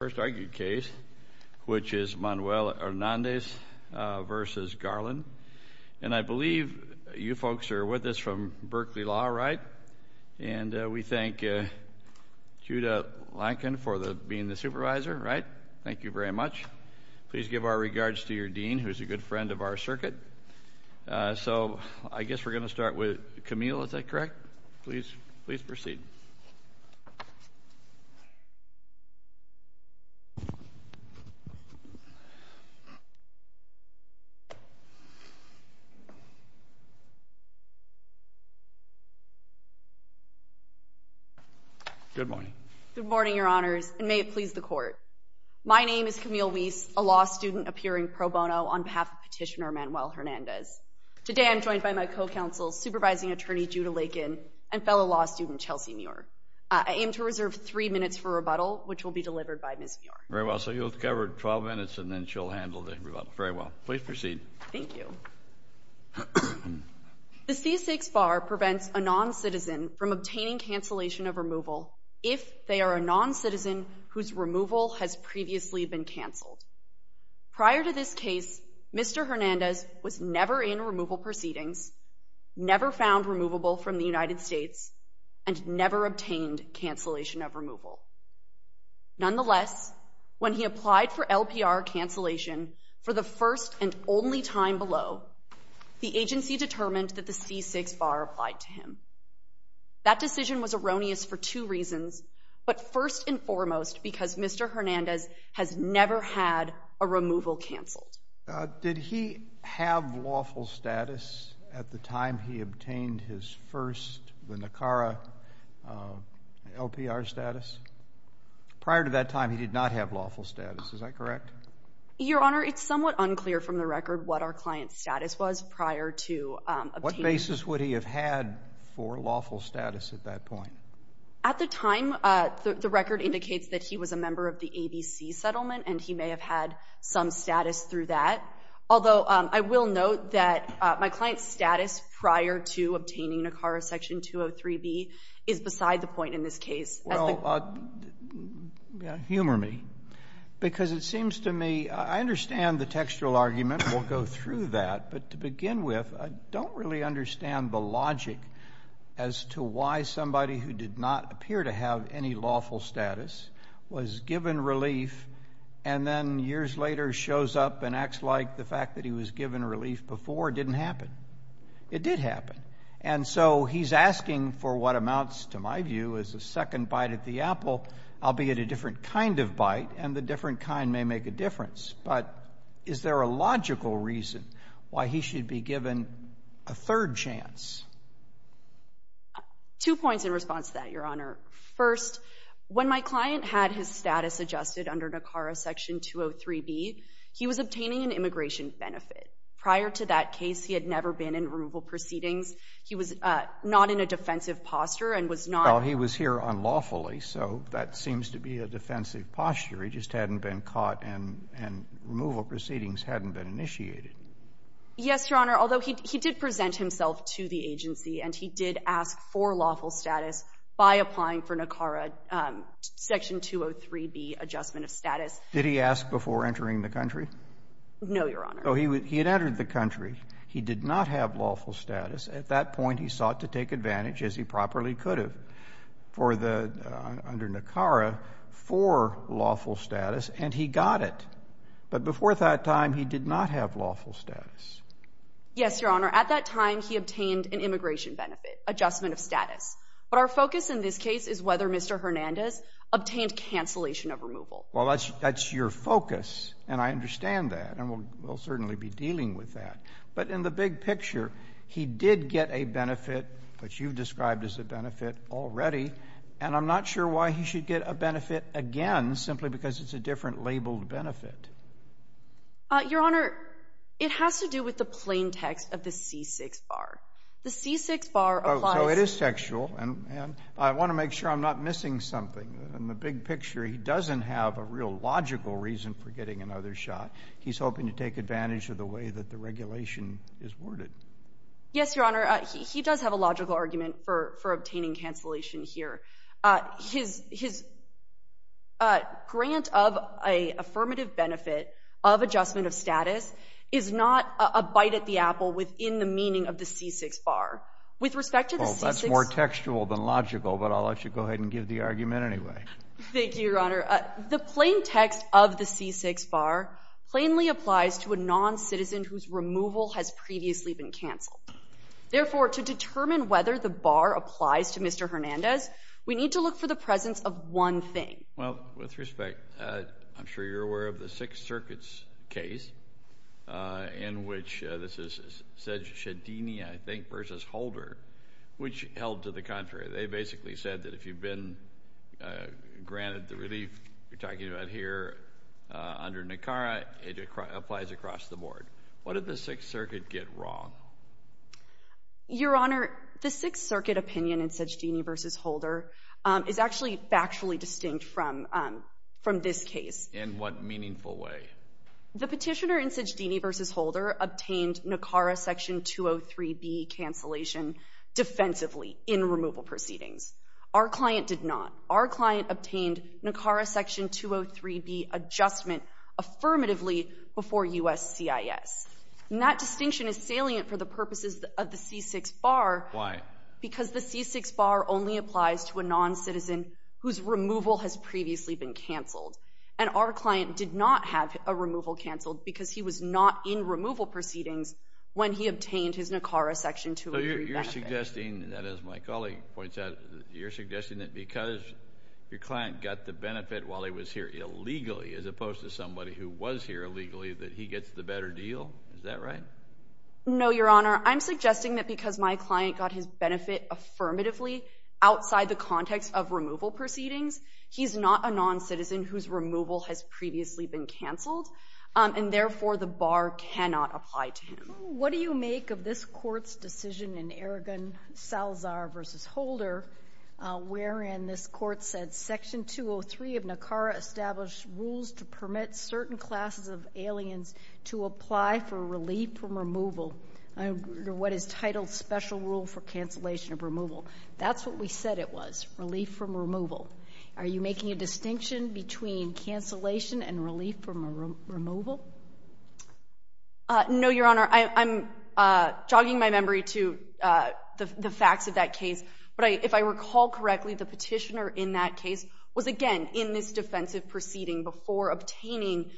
first argued case, which is Manuel Hernandez v. Garland. And I believe you folks are with us from Berkeley Law, right? And we thank Judah Lankin for being the supervisor, right? Thank you very much. Please give our regards to your dean, who's a good friend of our circuit. So, I guess we're going to start with Camille, is that correct? Please, please proceed. Good morning, your honors, and may it please the court. My name is Camille Weiss, a law Today, I'm joined by my co-counsel, supervising attorney Judah Lankin, and fellow law student Chelsea Muir. I aim to reserve three minutes for rebuttal, which will be delivered by Ms. Muir. Very well. So, you'll cover 12 minutes, and then she'll handle the rebuttal. Very well. Please proceed. Thank you. The C-6 bar prevents a non-citizen from obtaining cancellation of removal if they are a non-citizen whose removal has previously been canceled. Prior to this case, Mr. Hernandez was never in removal proceedings, never found removable from the United States, and never obtained cancellation of removal. Nonetheless, when he applied for LPR cancellation for the first and only time below, the agency determined that the C-6 bar applied to him. That decision was erroneous for two reasons, but first and foremost, because Mr. Hernandez has never had a removal canceled. Did he have lawful status at the time he obtained his first, the NACARA LPR status? Prior to that time, he did not have lawful status. Is that correct? Your Honor, it's somewhat unclear from the record what our client's status was prior to obtaining it. What basis would he have had for lawful status at that point? At the time, the record indicates that he was a member of the ABC settlement, and he may have had some status through that. Although, I will note that my client's status prior to obtaining NACARA Section 203B is beside the point in this case. Well, humor me, because it seems to me, I understand the textual argument. We'll go through that. But to begin with, I don't really understand the logic as to why somebody who did not appear to have any lawful status was given relief and then years later shows up and acts like the fact that he was given relief before didn't happen. It did happen. And so he's asking for what amounts, to my view, is a second bite at the apple, albeit a different kind of bite, and the different kind may make a difference. But is there a logical reason why he should be given a third chance? Two points in response to that, Your Honor. First, when my client had his status adjusted under NACARA Section 203B, he was obtaining an immigration benefit. Prior to that case, he had never been in removal proceedings. He was not in a defensive posture and was not- Well, he was here unlawfully, so that seems to be a defensive posture. He just hadn't been caught and removal proceedings hadn't been initiated. Yes, Your Honor. Although, he did present himself to the agency and he did ask for lawful status by applying for NACARA Section 203B adjustment of status. Did he ask before entering the country? No, Your Honor. Oh, he had entered the country. He did not have lawful status. At that point, he sought to take advantage, as he properly could have, under NACARA for lawful status, and he got it. But before that time, he did not have lawful status. Yes, Your Honor. At that time, he obtained an immigration benefit adjustment of status. But our focus in this case is whether Mr. Hernandez obtained cancellation of removal. Well, that's your focus, and I understand that. And we'll certainly be dealing with that. But in the big picture, he did get a benefit, which you've described as a benefit already, and I'm not sure why he should get a benefit again simply because it's a different labeled benefit. Your Honor, it has to do with the plain text of the C6 bar. The C6 bar applies- Oh, so it is textual, and I want to make sure I'm not missing something. In the big picture, he doesn't have a real logical reason for getting another shot. He's hoping to take advantage of the way that the regulation is worded. Yes, Your Honor. He does have a logical argument for obtaining cancellation here. His grant of an affirmative benefit of adjustment of status is not a bite at the apple within the meaning of the C6 bar. With respect to the C6- Well, that's more textual than logical, but I'll let you go ahead and give the argument anyway. Thank you, Your Honor. Your Honor, the plain text of the C6 bar plainly applies to a non-citizen whose removal has previously been canceled. Therefore, to determine whether the bar applies to Mr. Hernandez, we need to look for the presence of one thing. Well, with respect, I'm sure you're aware of the Sixth Circuit's case in which this is Ceddini, I think, versus Holder, which held to the contrary. They basically said that if you've been granted the relief you're talking about here under NACARA, it applies across the board. What did the Sixth Circuit get wrong? Your Honor, the Sixth Circuit opinion in Ceddini versus Holder is actually factually distinct from this case. In what meaningful way? The Petitioner in Ceddini versus Holder obtained NACARA Section 203B cancellation defensively in removal proceedings. Our client did not. Our client obtained NACARA Section 203B adjustment affirmatively before U.S.CIS. And that distinction is salient for the purposes of the C6 bar- Why? Because the C6 bar only applies to a non-citizen whose removal has previously been canceled. And our client did not have a removal canceled because he was not in removal proceedings when he obtained his NACARA Section 203B benefit. So you're suggesting that, as my colleague points out, you're suggesting that because your client got the benefit while he was here illegally, as opposed to somebody who was here illegally, that he gets the better deal? Is that right? No, Your Honor. I'm suggesting that because my client got his benefit affirmatively outside the context of removal proceedings, he's not a non-citizen whose removal has previously been canceled. And, therefore, the bar cannot apply to him. What do you make of this Court's decision in Aragon-Salazar versus Holder, wherein this Court said Section 203 of NACARA established rules to permit certain classes of aliens to apply for relief from removal, under what is titled Special Rule for Cancellation of Removal. That's what we said it was, relief from removal. Are you making a distinction between cancellation and relief from removal? No, Your Honor. I'm jogging my memory to the facts of that case. But if I recall correctly, the petitioner in that case was, again, in this defensive proceeding before obtaining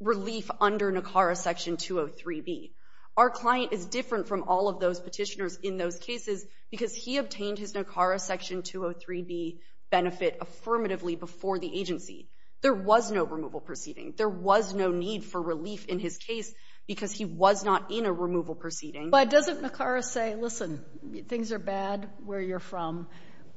relief under NACARA Section 203B. Our client is different from all of those petitioners in those cases because he obtained his NACARA Section 203B benefit affirmatively before the agency. There was no removal proceeding. There was no need for relief in his case because he was not in a removal proceeding. But doesn't NACARA say, listen, things are bad where you're from.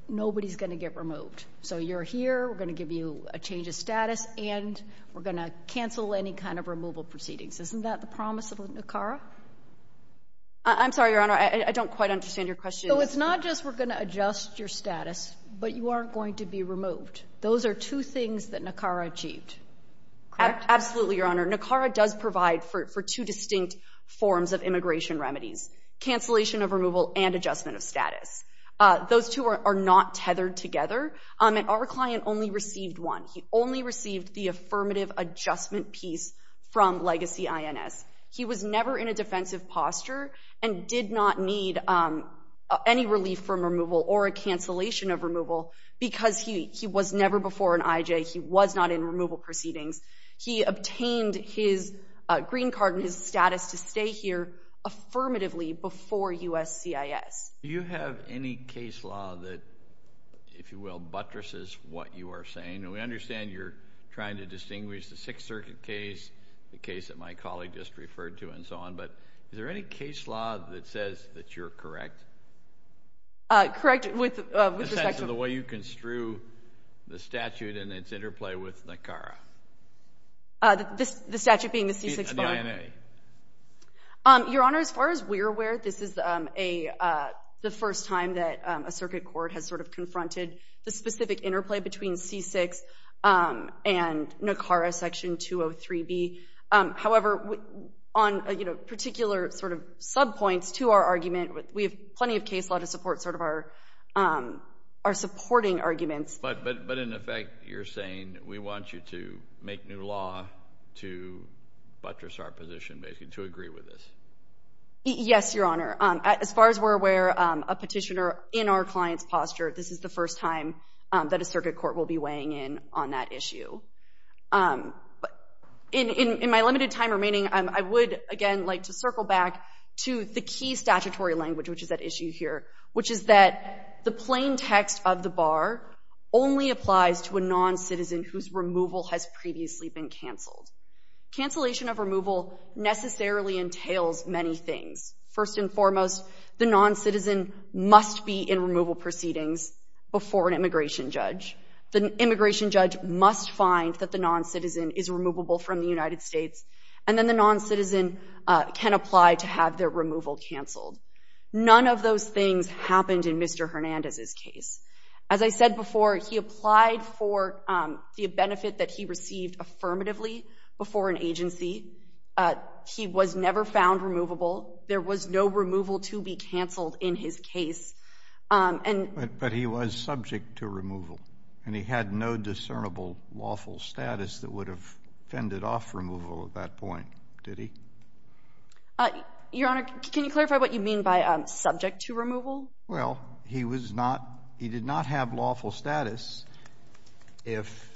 Nobody's going to get removed. So you're here. We're going to give you a change of status, and we're going to cancel any kind of removal proceedings. Isn't that the promise of NACARA? I'm sorry, Your Honor. I don't quite understand your question. So it's not just we're going to adjust your status, but you aren't going to be removed. Those are two things that NACARA achieved, correct? Absolutely, Your Honor. NACARA does provide for two distinct forms of immigration remedies, cancellation of removal and adjustment of status. Those two are not tethered together. And our client only received one. He only received the affirmative adjustment piece from Legacy INS. He was never in a defensive posture and did not need any relief from removal or a cancellation of removal because he was never before an IJ. He was not in removal proceedings. He obtained his green card and his status to stay here affirmatively before USCIS. Do you have any case law that, if you will, buttresses what you are saying? And we understand you're trying to distinguish the Sixth Circuit case, the case that my colleague just referred to, and so on. But is there any case law that says that you're correct? Correct with respect to the way you construe the statute and its interplay with NACARA. The statute being the C-6 bond? DNA. Your Honor, as far as we're aware, this is the first time that a circuit court has sort of confronted the specific interplay between C-6 and NACARA Section 203B. However, on particular sort of subpoints to our argument, we have plenty of case law to support sort of our supporting arguments. But, in effect, you're saying we want you to make new law to buttress our position, basically, to agree with this? Yes, Your Honor. As far as we're aware, a petitioner in our client's posture, this is the first time that a circuit court will be weighing in on that issue. In my limited time remaining, I would, again, like to circle back to the key statutory language, which is at issue here, which is that the plain text of the bar only applies to a non-citizen whose removal has previously been canceled. Cancellation of removal necessarily entails many things. First and foremost, the non-citizen must be in removal proceedings before an immigration judge. The immigration judge must find that the non-citizen is removable from the United States, and then the non-citizen can apply to have their removal canceled. None of those things happened in Mr. Hernandez's case. As I said before, he applied for the benefit that he received affirmatively before an agency. He was never found removable. There was no removal to be canceled in his case. But he was subject to removal, and he had no discernible lawful status that would have fended off removal at that point, did he? Your Honor, can you clarify what you mean by subject to removal? Well, he did not have lawful status. If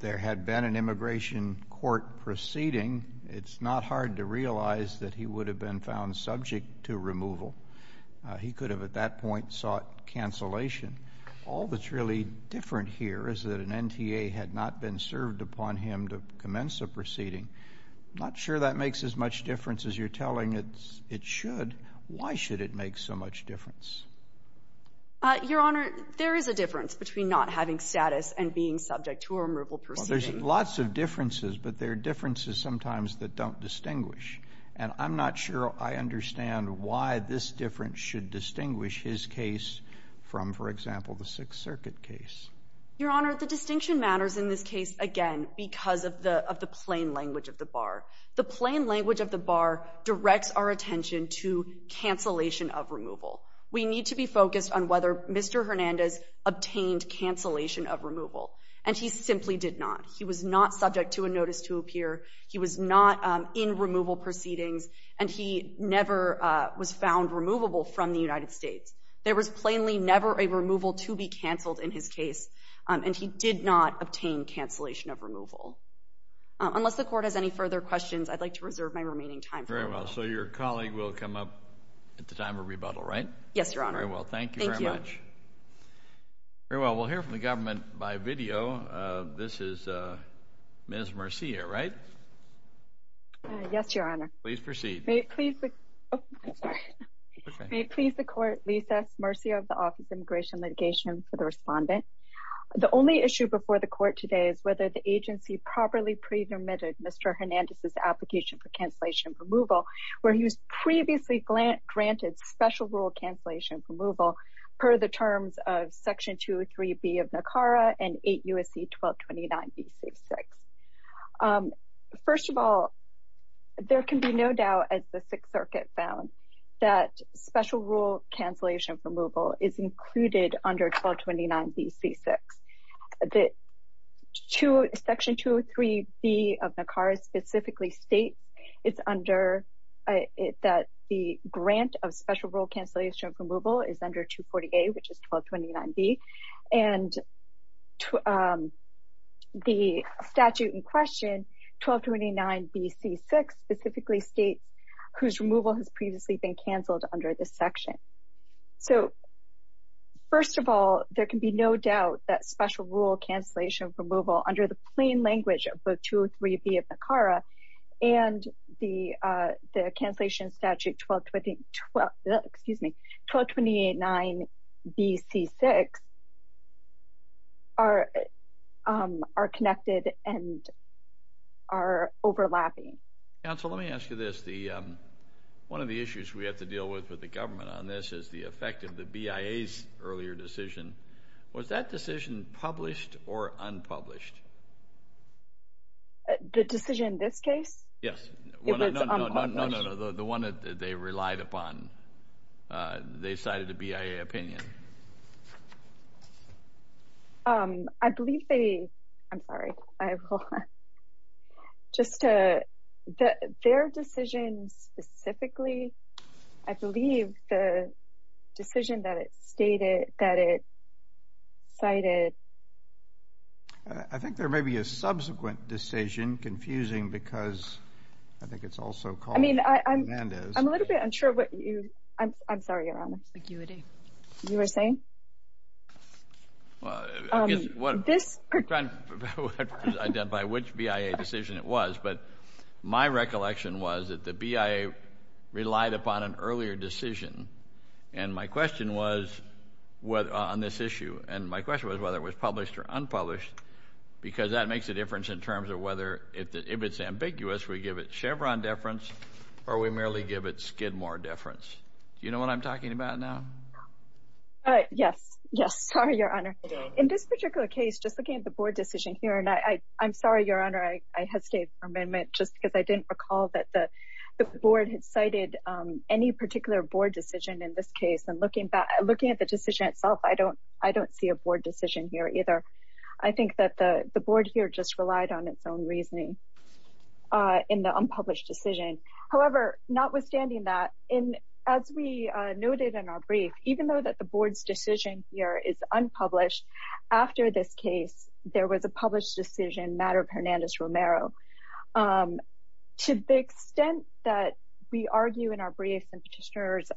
there had been an immigration court proceeding, it's not hard to realize that he would have been found subject to removal. He could have at that point sought cancellation. All that's really different here is that an NTA had not been served upon him to commence a proceeding. I'm not sure that makes as much difference as you're telling it should. Why should it make so much difference? Your Honor, there is a difference between not having status and being subject to a removal proceeding. Well, there's lots of differences, but there are differences sometimes that don't distinguish. And I'm not sure I understand why this difference should distinguish his case from, for example, the Sixth Circuit case. Your Honor, the distinction matters in this case, again, because of the plain language of the bar. The plain language of the bar directs our attention to cancellation of removal. We need to be focused on whether Mr. Hernandez obtained cancellation of removal, and he simply did not. He was not subject to a notice to appear. He was not in removal proceedings, and he never was found removable from the United States. There was plainly never a removal to be canceled in his case, and he did not obtain cancellation of removal. Unless the Court has any further questions, I'd like to reserve my remaining time. Very well. So your colleague will come up at the time of rebuttal, right? Yes, Your Honor. Very well. Thank you very much. Thank you. Very well. We'll hear from the government by video. This is Ms. Murcia, right? Yes, Your Honor. Please proceed. May it please the Court, Lisa Murcia of the Office of Immigration Litigation, for the respondent. The only issue before the Court today is whether the agency properly pre-permitted Mr. Hernandez's application for cancellation of removal, where he was previously granted special rule cancellation of removal per the terms of Section 203B of NACARA and 8 U.S.C. 1229B.C. 6. First of all, there can be no doubt, as the Sixth Circuit found, that special rule cancellation of removal is included under 1229B.C. 6. Section 203B of NACARA specifically states that the grant of special rule cancellation of removal is under 240A, which is 1229B. And the statute in question, 1229B.C. 6, specifically states whose removal has previously been canceled under this section. So, first of all, there can be no doubt that special rule cancellation of removal under the plain language of both 203B of NACARA and the cancellation statute 1229B.C. 6 are connected and are overlapping. Counsel, let me ask you this. One of the issues we have to deal with with the government on this is the effect of the BIA's earlier decision. Was that decision published or unpublished? The decision in this case? Yes. It was unpublished. No, no, no. The one that they relied upon. They cited the BIA opinion. I believe they, I'm sorry, I will, just to, their decision specifically, I believe the decision that it stated, that it cited. I think there may be a subsequent decision, confusing, because I think it's also called. I mean, I'm, I'm a little bit unsure what you, I'm sorry, Your Honor. Aguity. You were saying? Well, I guess what. This. Trying to identify which BIA decision it was, but my recollection was that the BIA relied upon an earlier decision. And my question was, on this issue, and my question was whether it was published or unpublished. Because that makes a difference in terms of whether, if it's ambiguous, we give it Chevron deference or we merely give it Skidmore deference. Do you know what I'm talking about now? Yes. Yes. Sorry, Your Honor. In this particular case, just looking at the board decision here, and I, I'm sorry, Your Honor. I hesitate for a moment just because I didn't recall that the, the board had cited any particular board decision in this case. And looking back, looking at the decision itself, I don't, I don't see a board decision here either. I think that the, the board here just relied on its own reasoning in the unpublished decision. However, notwithstanding that, in, as we noted in our brief, even though that the board's decision here is unpublished, after this case, there was a published decision, matter of Hernandez-Romero. To the extent that we argue in our briefs and petitioners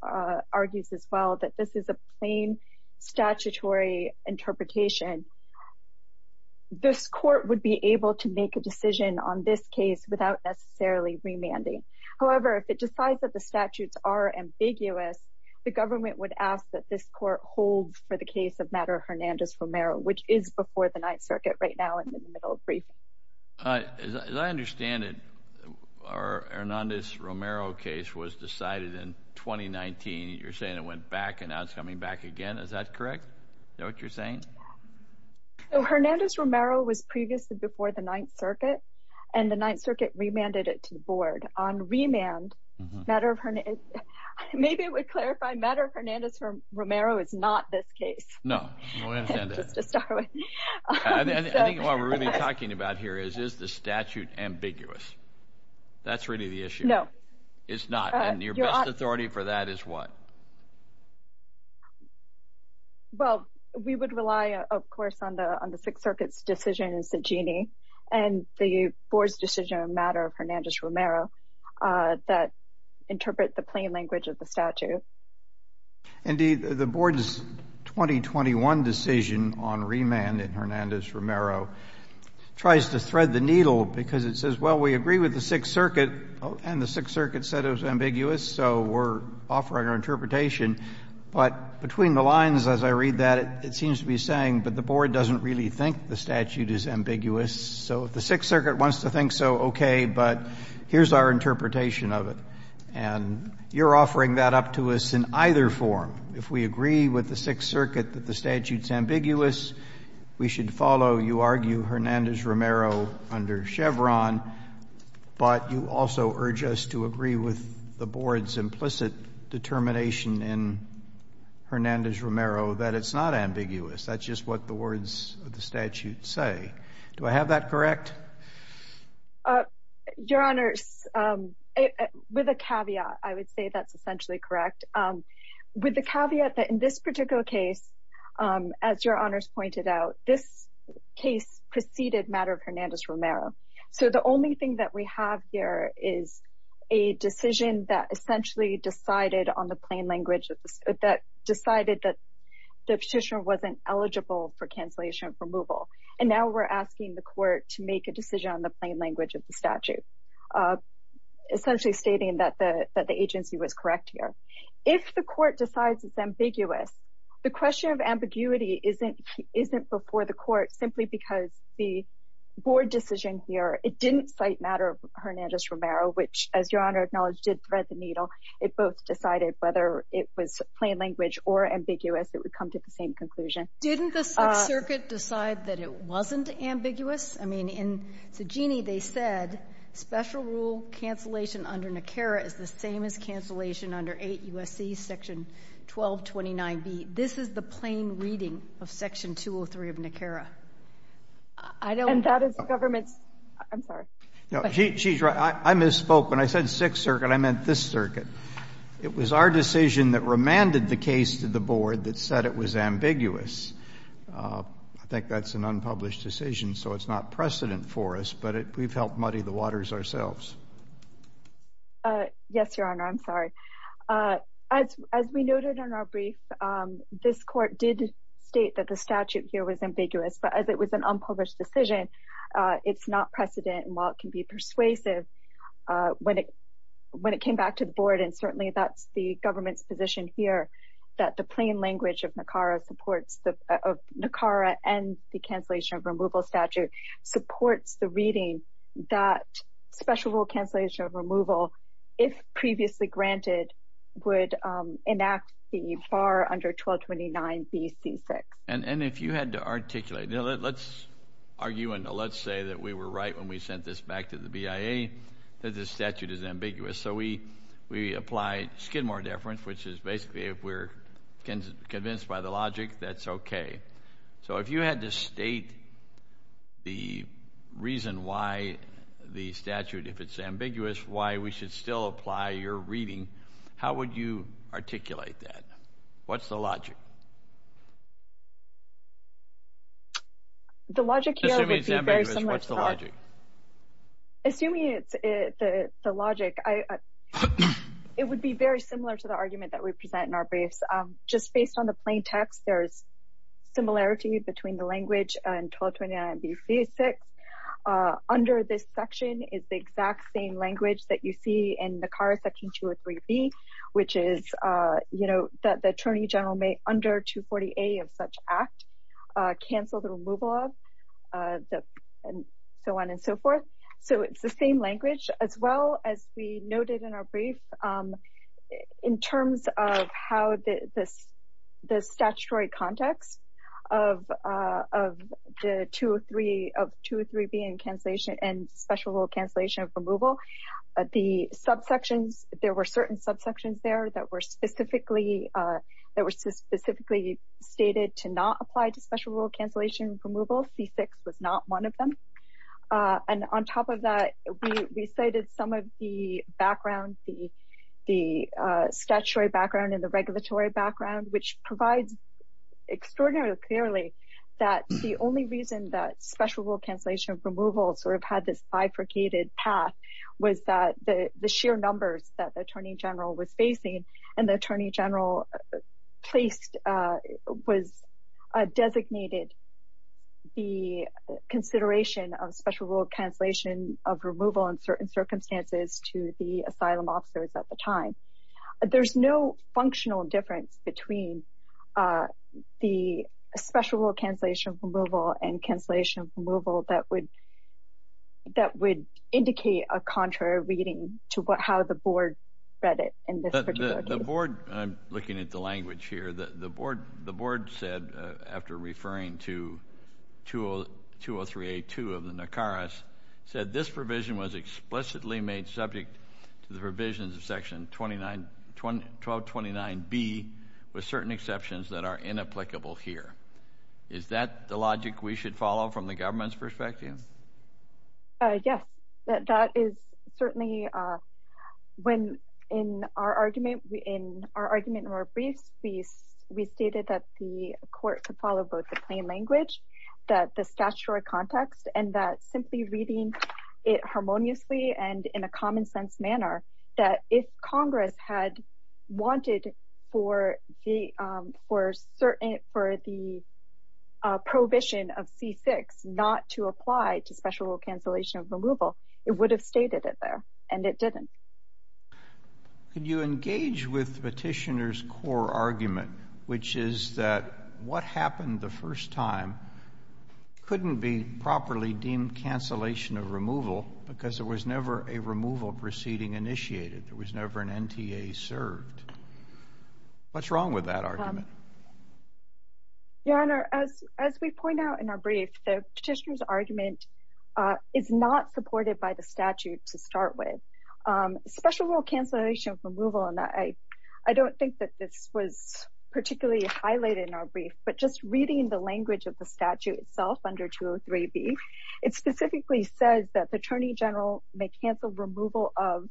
argues as well that this is a plain statutory interpretation, this court would be able to make a decision on this case without necessarily remanding. However, if it decides that the statutes are ambiguous, the government would ask that this court hold for the case of matter of Hernandez-Romero, which is before the Ninth Circuit right now and in the middle of briefing. As I understand it, our Hernandez-Romero case was decided in 2019. You're saying it went back and now it's coming back again. Is that correct? Is that what you're saying? Hernandez-Romero was previously before the Ninth Circuit and the Ninth Circuit remanded it to the board. On remand, matter of Hernandez, maybe it would clarify matter of Hernandez-Romero is not this case. No. Just to start with. I think what we're really talking about here is, is the statute ambiguous? That's really the issue. No. It's not. And your best authority for that is what? Well, we would rely, of course, on the Sixth Circuit's decisions, the genie, and the board's decision on matter of Hernandez-Romero that interpret the plain language of the statute. Indeed, the board's 2021 decision on remand in Hernandez-Romero tries to thread the needle because it says, well, we agree with the Sixth Circuit, and the Sixth Circuit said it was ambiguous, so we're offering our interpretation. But between the lines, as I read that, it seems to be saying, but the board doesn't really think the statute is ambiguous. So if the Sixth Circuit wants to think so, okay, but here's our interpretation of it. And you're offering that up to us in either form. If we agree with the Sixth Circuit that the statute's ambiguous, we should follow, you argue, Hernandez-Romero under Chevron. But you also urge us to agree with the board's implicit determination in Hernandez-Romero that it's not ambiguous. That's just what the words of the statute say. Do I have that correct? Your Honors, with a caveat, I would say that's essentially correct. With the caveat that in this particular case, as Your Honors pointed out, this case preceded matter of Hernandez-Romero. So the only thing that we have here is a decision that essentially decided on the plain language, that decided that the petitioner wasn't eligible for cancellation of removal. And now we're asking the court to make a decision on the plain language of the statute, essentially stating that the agency was correct here. If the court decides it's ambiguous, the question of ambiguity isn't before the court simply because the board decision here, it didn't cite matter of Hernandez-Romero, which, as Your Honor acknowledged, did thread the needle. It both decided whether it was plain language or ambiguous. It would come to the same conclusion. Didn't the Sixth Circuit decide that it wasn't ambiguous? I mean, in Cegini, they said special rule cancellation under NICARA is the same as cancellation under 8 U.S.C. section 1229B. This is the plain reading of section 203 of NICARA. And that is the government's — I'm sorry. No, she's right. I misspoke. When I said Sixth Circuit, I meant this circuit. It was our decision that remanded the case to the board that said it was ambiguous. I think that's an unpublished decision, so it's not precedent for us, but we've helped muddy the waters ourselves. Yes, Your Honor, I'm sorry. As we noted in our brief, this court did state that the statute here was ambiguous. But as it was an unpublished decision, it's not precedent. And while it can be persuasive, when it came back to the board, and certainly that's the government's position here, that the plain language of NICARA and the cancellation of removal statute supports the reading that special rule cancellation of removal, if previously granted, would enact the far under 1229B C6. And if you had to articulate — let's argue and let's say that we were right when we sent this back to the BIA, that the statute is ambiguous. So we apply Skidmore deference, which is basically if we're convinced by the logic, that's okay. So if you had to state the reason why the statute, if it's ambiguous, why we should still apply your reading, how would you articulate that? What's the logic? Assuming it's ambiguous, what's the logic? Assuming it's the logic, it would be very similar to the argument that we present in our briefs. Just based on the plain text, there's similarity between the language and 1229B C6. Under this section is the exact same language that you see in NICARA section 203B, which is that the attorney general may, under 240A of such act, cancel the removal of, and so on and so forth. So it's the same language, as well as we noted in our brief, in terms of how the statutory context of 203B and special rule cancellation of removal, the subsections, there were certain subsections there that were specifically stated to not apply to special rule cancellation of removal. C6 was not one of them. And on top of that, we cited some of the background, the statutory background and the regulatory background, which provides extraordinarily clearly that the only reason that special rule cancellation of removal sort of had this bifurcated path was that the sheer numbers that the attorney general was facing and the attorney general placed, was designated the consideration of special rule cancellation of removal in certain circumstances to the asylum officers at the time. There's no functional difference between the special rule cancellation of removal and cancellation of removal that would indicate a contrary reading to how the board read it in this particular case. The board, I'm looking at the language here, the board said, after referring to 203A-2 of the NICARAS, said this provision was explicitly made subject to the provisions of section 1229B with certain exceptions that are inapplicable here. Is that the logic we should follow from the government's perspective? Yes, that is certainly when in our argument, in our argument in our briefs, we stated that the court could follow both the plain language, that the statutory context, and that simply reading it harmoniously and in a common sense manner, that if Congress had wanted for the prohibition of C-6 not to apply to special rule cancellation of removal, it would have stated it there, and it didn't. Could you engage with the petitioner's core argument, which is that what happened the first time couldn't be properly deemed cancellation of removal because there was never a removal proceeding initiated, there was never an NTA served. What's wrong with that argument? Your Honor, as we point out in our brief, the petitioner's argument is not supported by the statute to start with. Special rule cancellation of removal, and I don't think that this was particularly highlighted in our brief, but just reading the language of the statute itself under 203b, it specifically says that the Attorney General may cancel removal of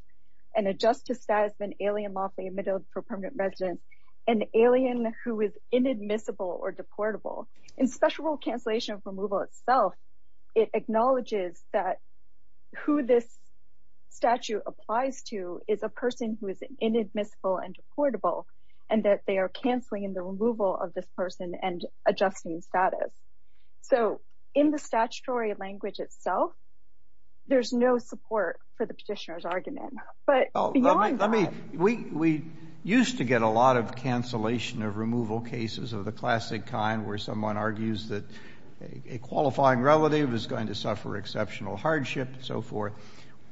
an adjusted status of an alien lawfully admitted for permanent residence, an alien who is inadmissible or deportable. In special rule cancellation of removal itself, it acknowledges that who this statute applies to is a person who is inadmissible and deportable, and that they are canceling the removal of this person and adjusting status. So in the statutory language itself, there's no support for the petitioner's argument. But beyond that... We used to get a lot of cancellation of removal cases of the classic kind, where someone argues that a qualifying relative is going to suffer exceptional hardship and so forth.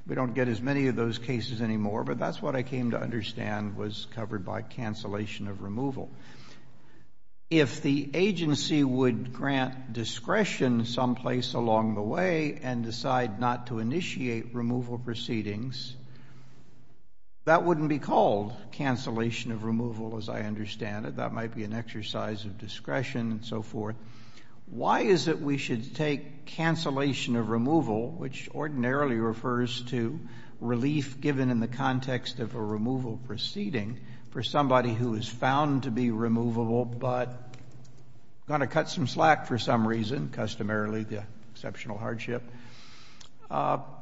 We don't get as many of those cases anymore, but that's what I came to understand was covered by cancellation of removal. If the agency would grant discretion someplace along the way and decide not to initiate removal proceedings, that wouldn't be called cancellation of removal, as I understand it. That might be an exercise of discretion and so forth. Why is it we should take cancellation of removal, which ordinarily refers to relief given in the context of a removal proceeding, for somebody who is found to be removable but going to cut some slack for some reason, customarily the exceptional hardship? What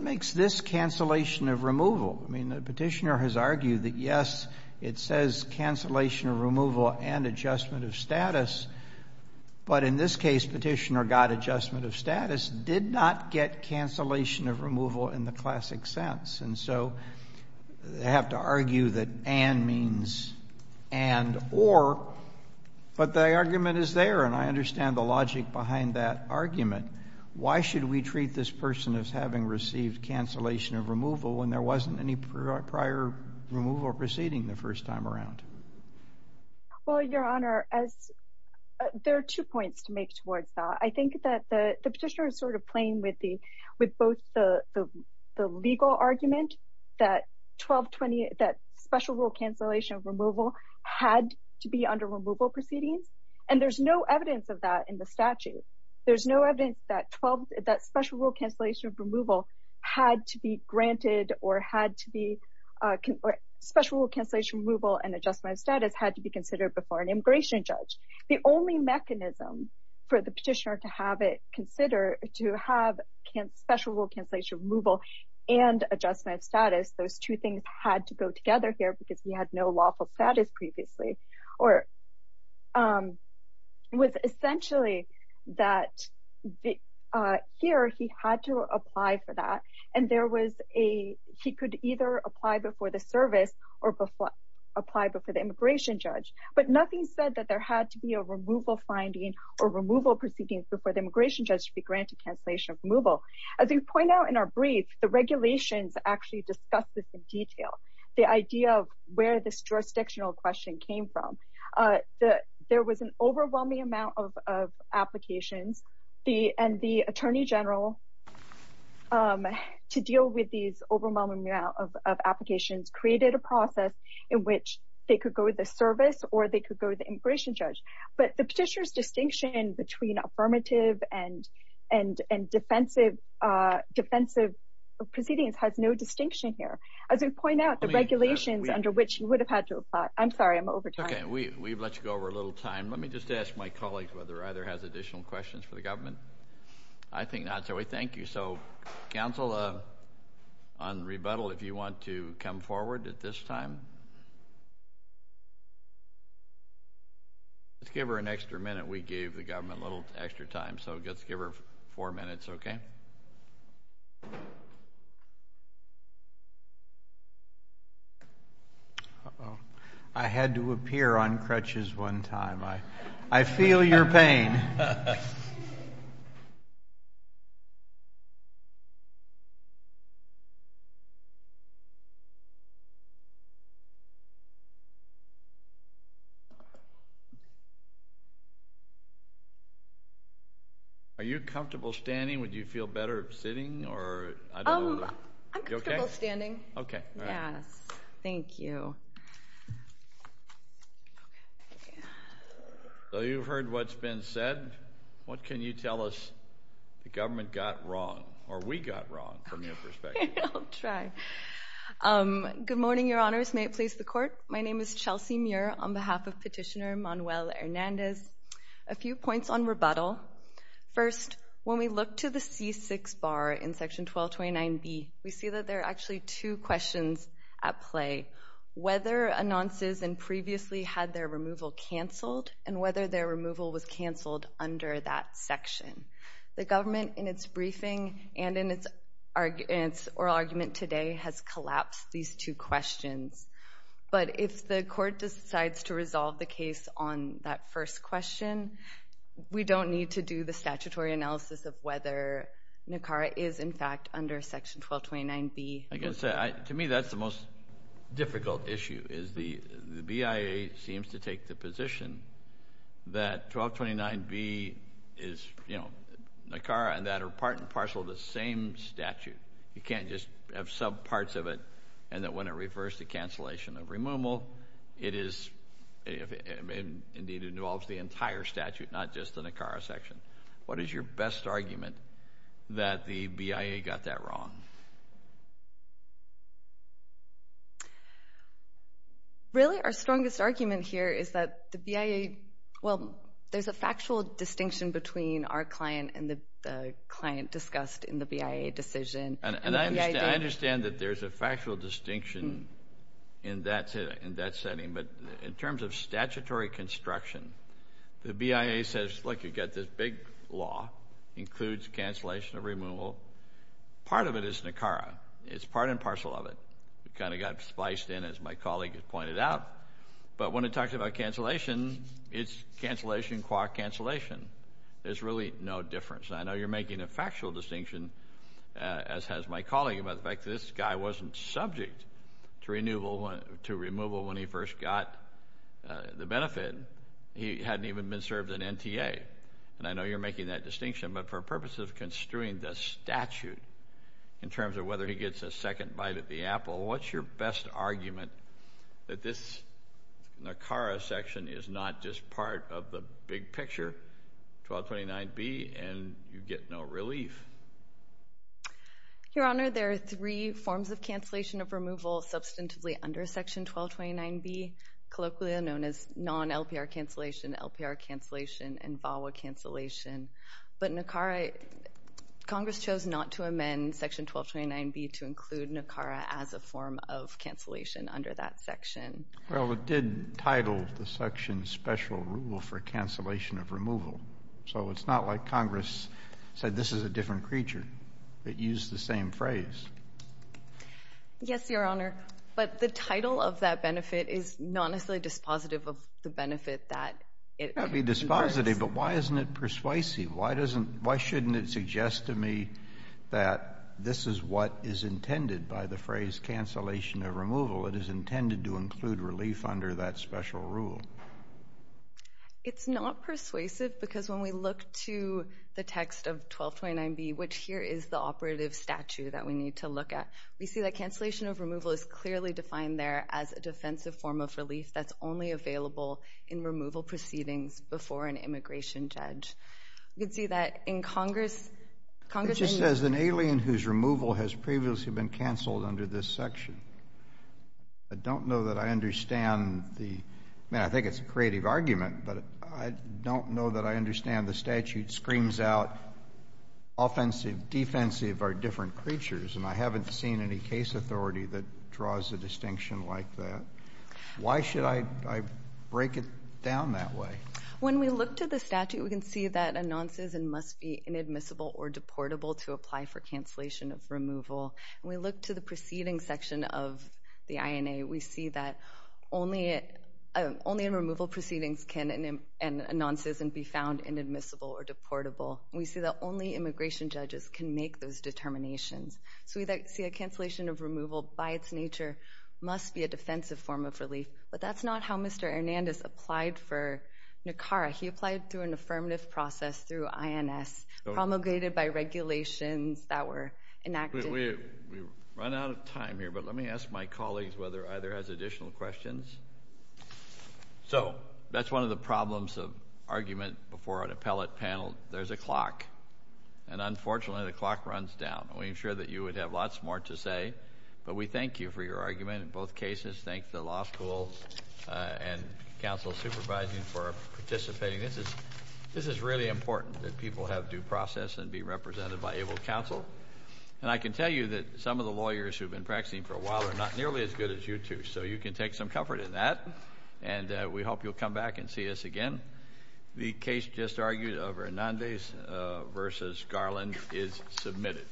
makes this cancellation of removal? I mean, the petitioner has argued that, yes, it says cancellation of removal and adjustment of status, but in this case, petitioner got adjustment of status, did not get cancellation of removal in the classic sense. And so they have to argue that and means and or, but the argument is there, and I understand the logic behind that argument. Why should we treat this person as having received cancellation of removal when there wasn't any prior removal proceeding the first time around? Well, Your Honor, there are two points to make towards that. I think that the petitioner is sort of playing with both the legal argument that 1220, that special rule cancellation of removal had to be under removal proceedings, and there's no evidence of that in the statute. There's no evidence that special rule cancellation of removal had to be granted or special rule cancellation of removal and adjustment of status had to be considered before an immigration judge. The only mechanism for the petitioner to have special rule cancellation of removal and adjustment of status, those two things had to go together here because we had no lawful status previously, or it was essentially that here he had to apply for that, and there was a, he could either apply before the service or apply before the immigration judge. But nothing said that there had to be a removal finding or removal proceedings before the immigration judge to be granted cancellation of removal. As we point out in our brief, the regulations actually discuss this in detail. The idea of where this jurisdictional question came from. There was an overwhelming amount of applications, and the attorney general to deal with these overwhelming amount of applications created a process in which they could go to the service or they could go to the immigration judge. But the petitioner's distinction between affirmative and defensive proceedings has no distinction here. As we point out, the regulations under which he would have had to apply. I'm sorry, I'm over time. Okay, we've let you go over a little time. Let me just ask my colleagues whether either has additional questions for the government. I think not, so we thank you. So, counsel, on rebuttal, if you want to come forward at this time. Let's give her an extra minute. We gave the government a little extra time, so let's give her four minutes, okay? I had to appear on crutches one time. I feel your pain. Are you comfortable standing? Would you feel better sitting? I'm comfortable standing. Okay. Yes. Thank you. So you've heard what's been said. What can you tell us the government got wrong, or we got wrong, from your perspective? I'll try. Good morning, Your Honors. May it please the Court. My name is Chelsea Muir on behalf of Petitioner Manuel Hernandez. A few points on rebuttal. First, when we look to the C6 bar in Section 1229B, we see that there are actually two questions at play. Whether Announces and previously had their removal canceled, and whether their removal was canceled under that section. The government, in its briefing and in its oral argument today, has collapsed these two questions. But if the Court decides to resolve the case on that first question, we don't need to do the statutory analysis of whether NACARA is, in fact, under Section 1229B. I guess, to me, that's the most difficult issue is the BIA seems to take the position that 1229B is NACARA and that are part and parcel of the same statute. You can't just have subparts of it and that when it refers to cancellation of removal, it is indeed involves the entire statute, not just the NACARA section. What is your best argument that the BIA got that wrong? Really, our strongest argument here is that the BIA, well, there's a factual distinction between our client and the client discussed in the BIA decision. And I understand that there's a factual distinction in that setting, but in terms of statutory construction, the BIA says, look, you've got this big law, includes cancellation of removal. Part of it is NACARA. It's part and parcel of it. It kind of got spliced in, as my colleague has pointed out. But when it talks about cancellation, it's cancellation qua cancellation. There's really no difference. And I know you're making a factual distinction, as has my colleague, about the fact that this guy wasn't subject to removal when he first got the benefit. He hadn't even been served an NTA. And I know you're making that distinction. But for purposes of construing the statute in terms of whether he gets a second bite at the apple, what's your best argument that this NACARA section is not just part of the big picture, 1229B, and you get no relief? Your Honor, there are three forms of cancellation of removal substantively under Section 1229B, colloquially known as non-LPR cancellation, LPR cancellation, and VAWA cancellation. But NACARA, Congress chose not to amend Section 1229B to include NACARA as a form of cancellation under that section. Well, it did title the section Special Rule for Cancellation of Removal. So it's not like Congress said, this is a different creature. It used the same phrase. Yes, Your Honor. But the title of that benefit is not necessarily dispositive of the benefit that it requires. It might be dispositive, but why isn't it persuasive? Why shouldn't it suggest to me that this is what is intended by the phrase cancellation of removal? It is intended to include relief under that Special Rule. It's not persuasive because when we look to the text of 1229B, which here is the operative statute that we need to look at, we see that cancellation of removal is clearly defined there as a defensive form of relief that's only available in removal proceedings before an immigration judge. You can see that in Congress. It just says an alien whose removal has previously been canceled under this section. I don't know that I understand the, I mean, I think it's a creative argument, but I don't know that I understand the statute screams out offensive, defensive are different creatures, and I haven't seen any case authority that draws a distinction like that. Why should I break it down that way? When we look to the statute, we can see that announces and must be inadmissible or deportable to apply for cancellation of removal. When we look to the proceeding section of the INA, we see that only in removal proceedings can announces and be found inadmissible or deportable. We see that only immigration judges can make those determinations. So we see a cancellation of removal by its nature must be a defensive form of relief, but that's not how Mr. Hernandez applied for NACARA. He applied through an affirmative process through INS promulgated by regulations that were enacted. We've run out of time here, but let me ask my colleagues whether either has additional questions. So that's one of the problems of argument before an appellate panel. There's a clock, and unfortunately the clock runs down. We ensure that you would have lots more to say, but we thank you for your argument in both cases. Thank the law school and counsel supervising for participating. This is really important that people have due process and be represented by able counsel. And I can tell you that some of the lawyers who have been practicing for a while are not nearly as good as you two, so you can take some comfort in that, and we hope you'll come back and see us again. The case just argued of Hernandez v. Garland is submitted.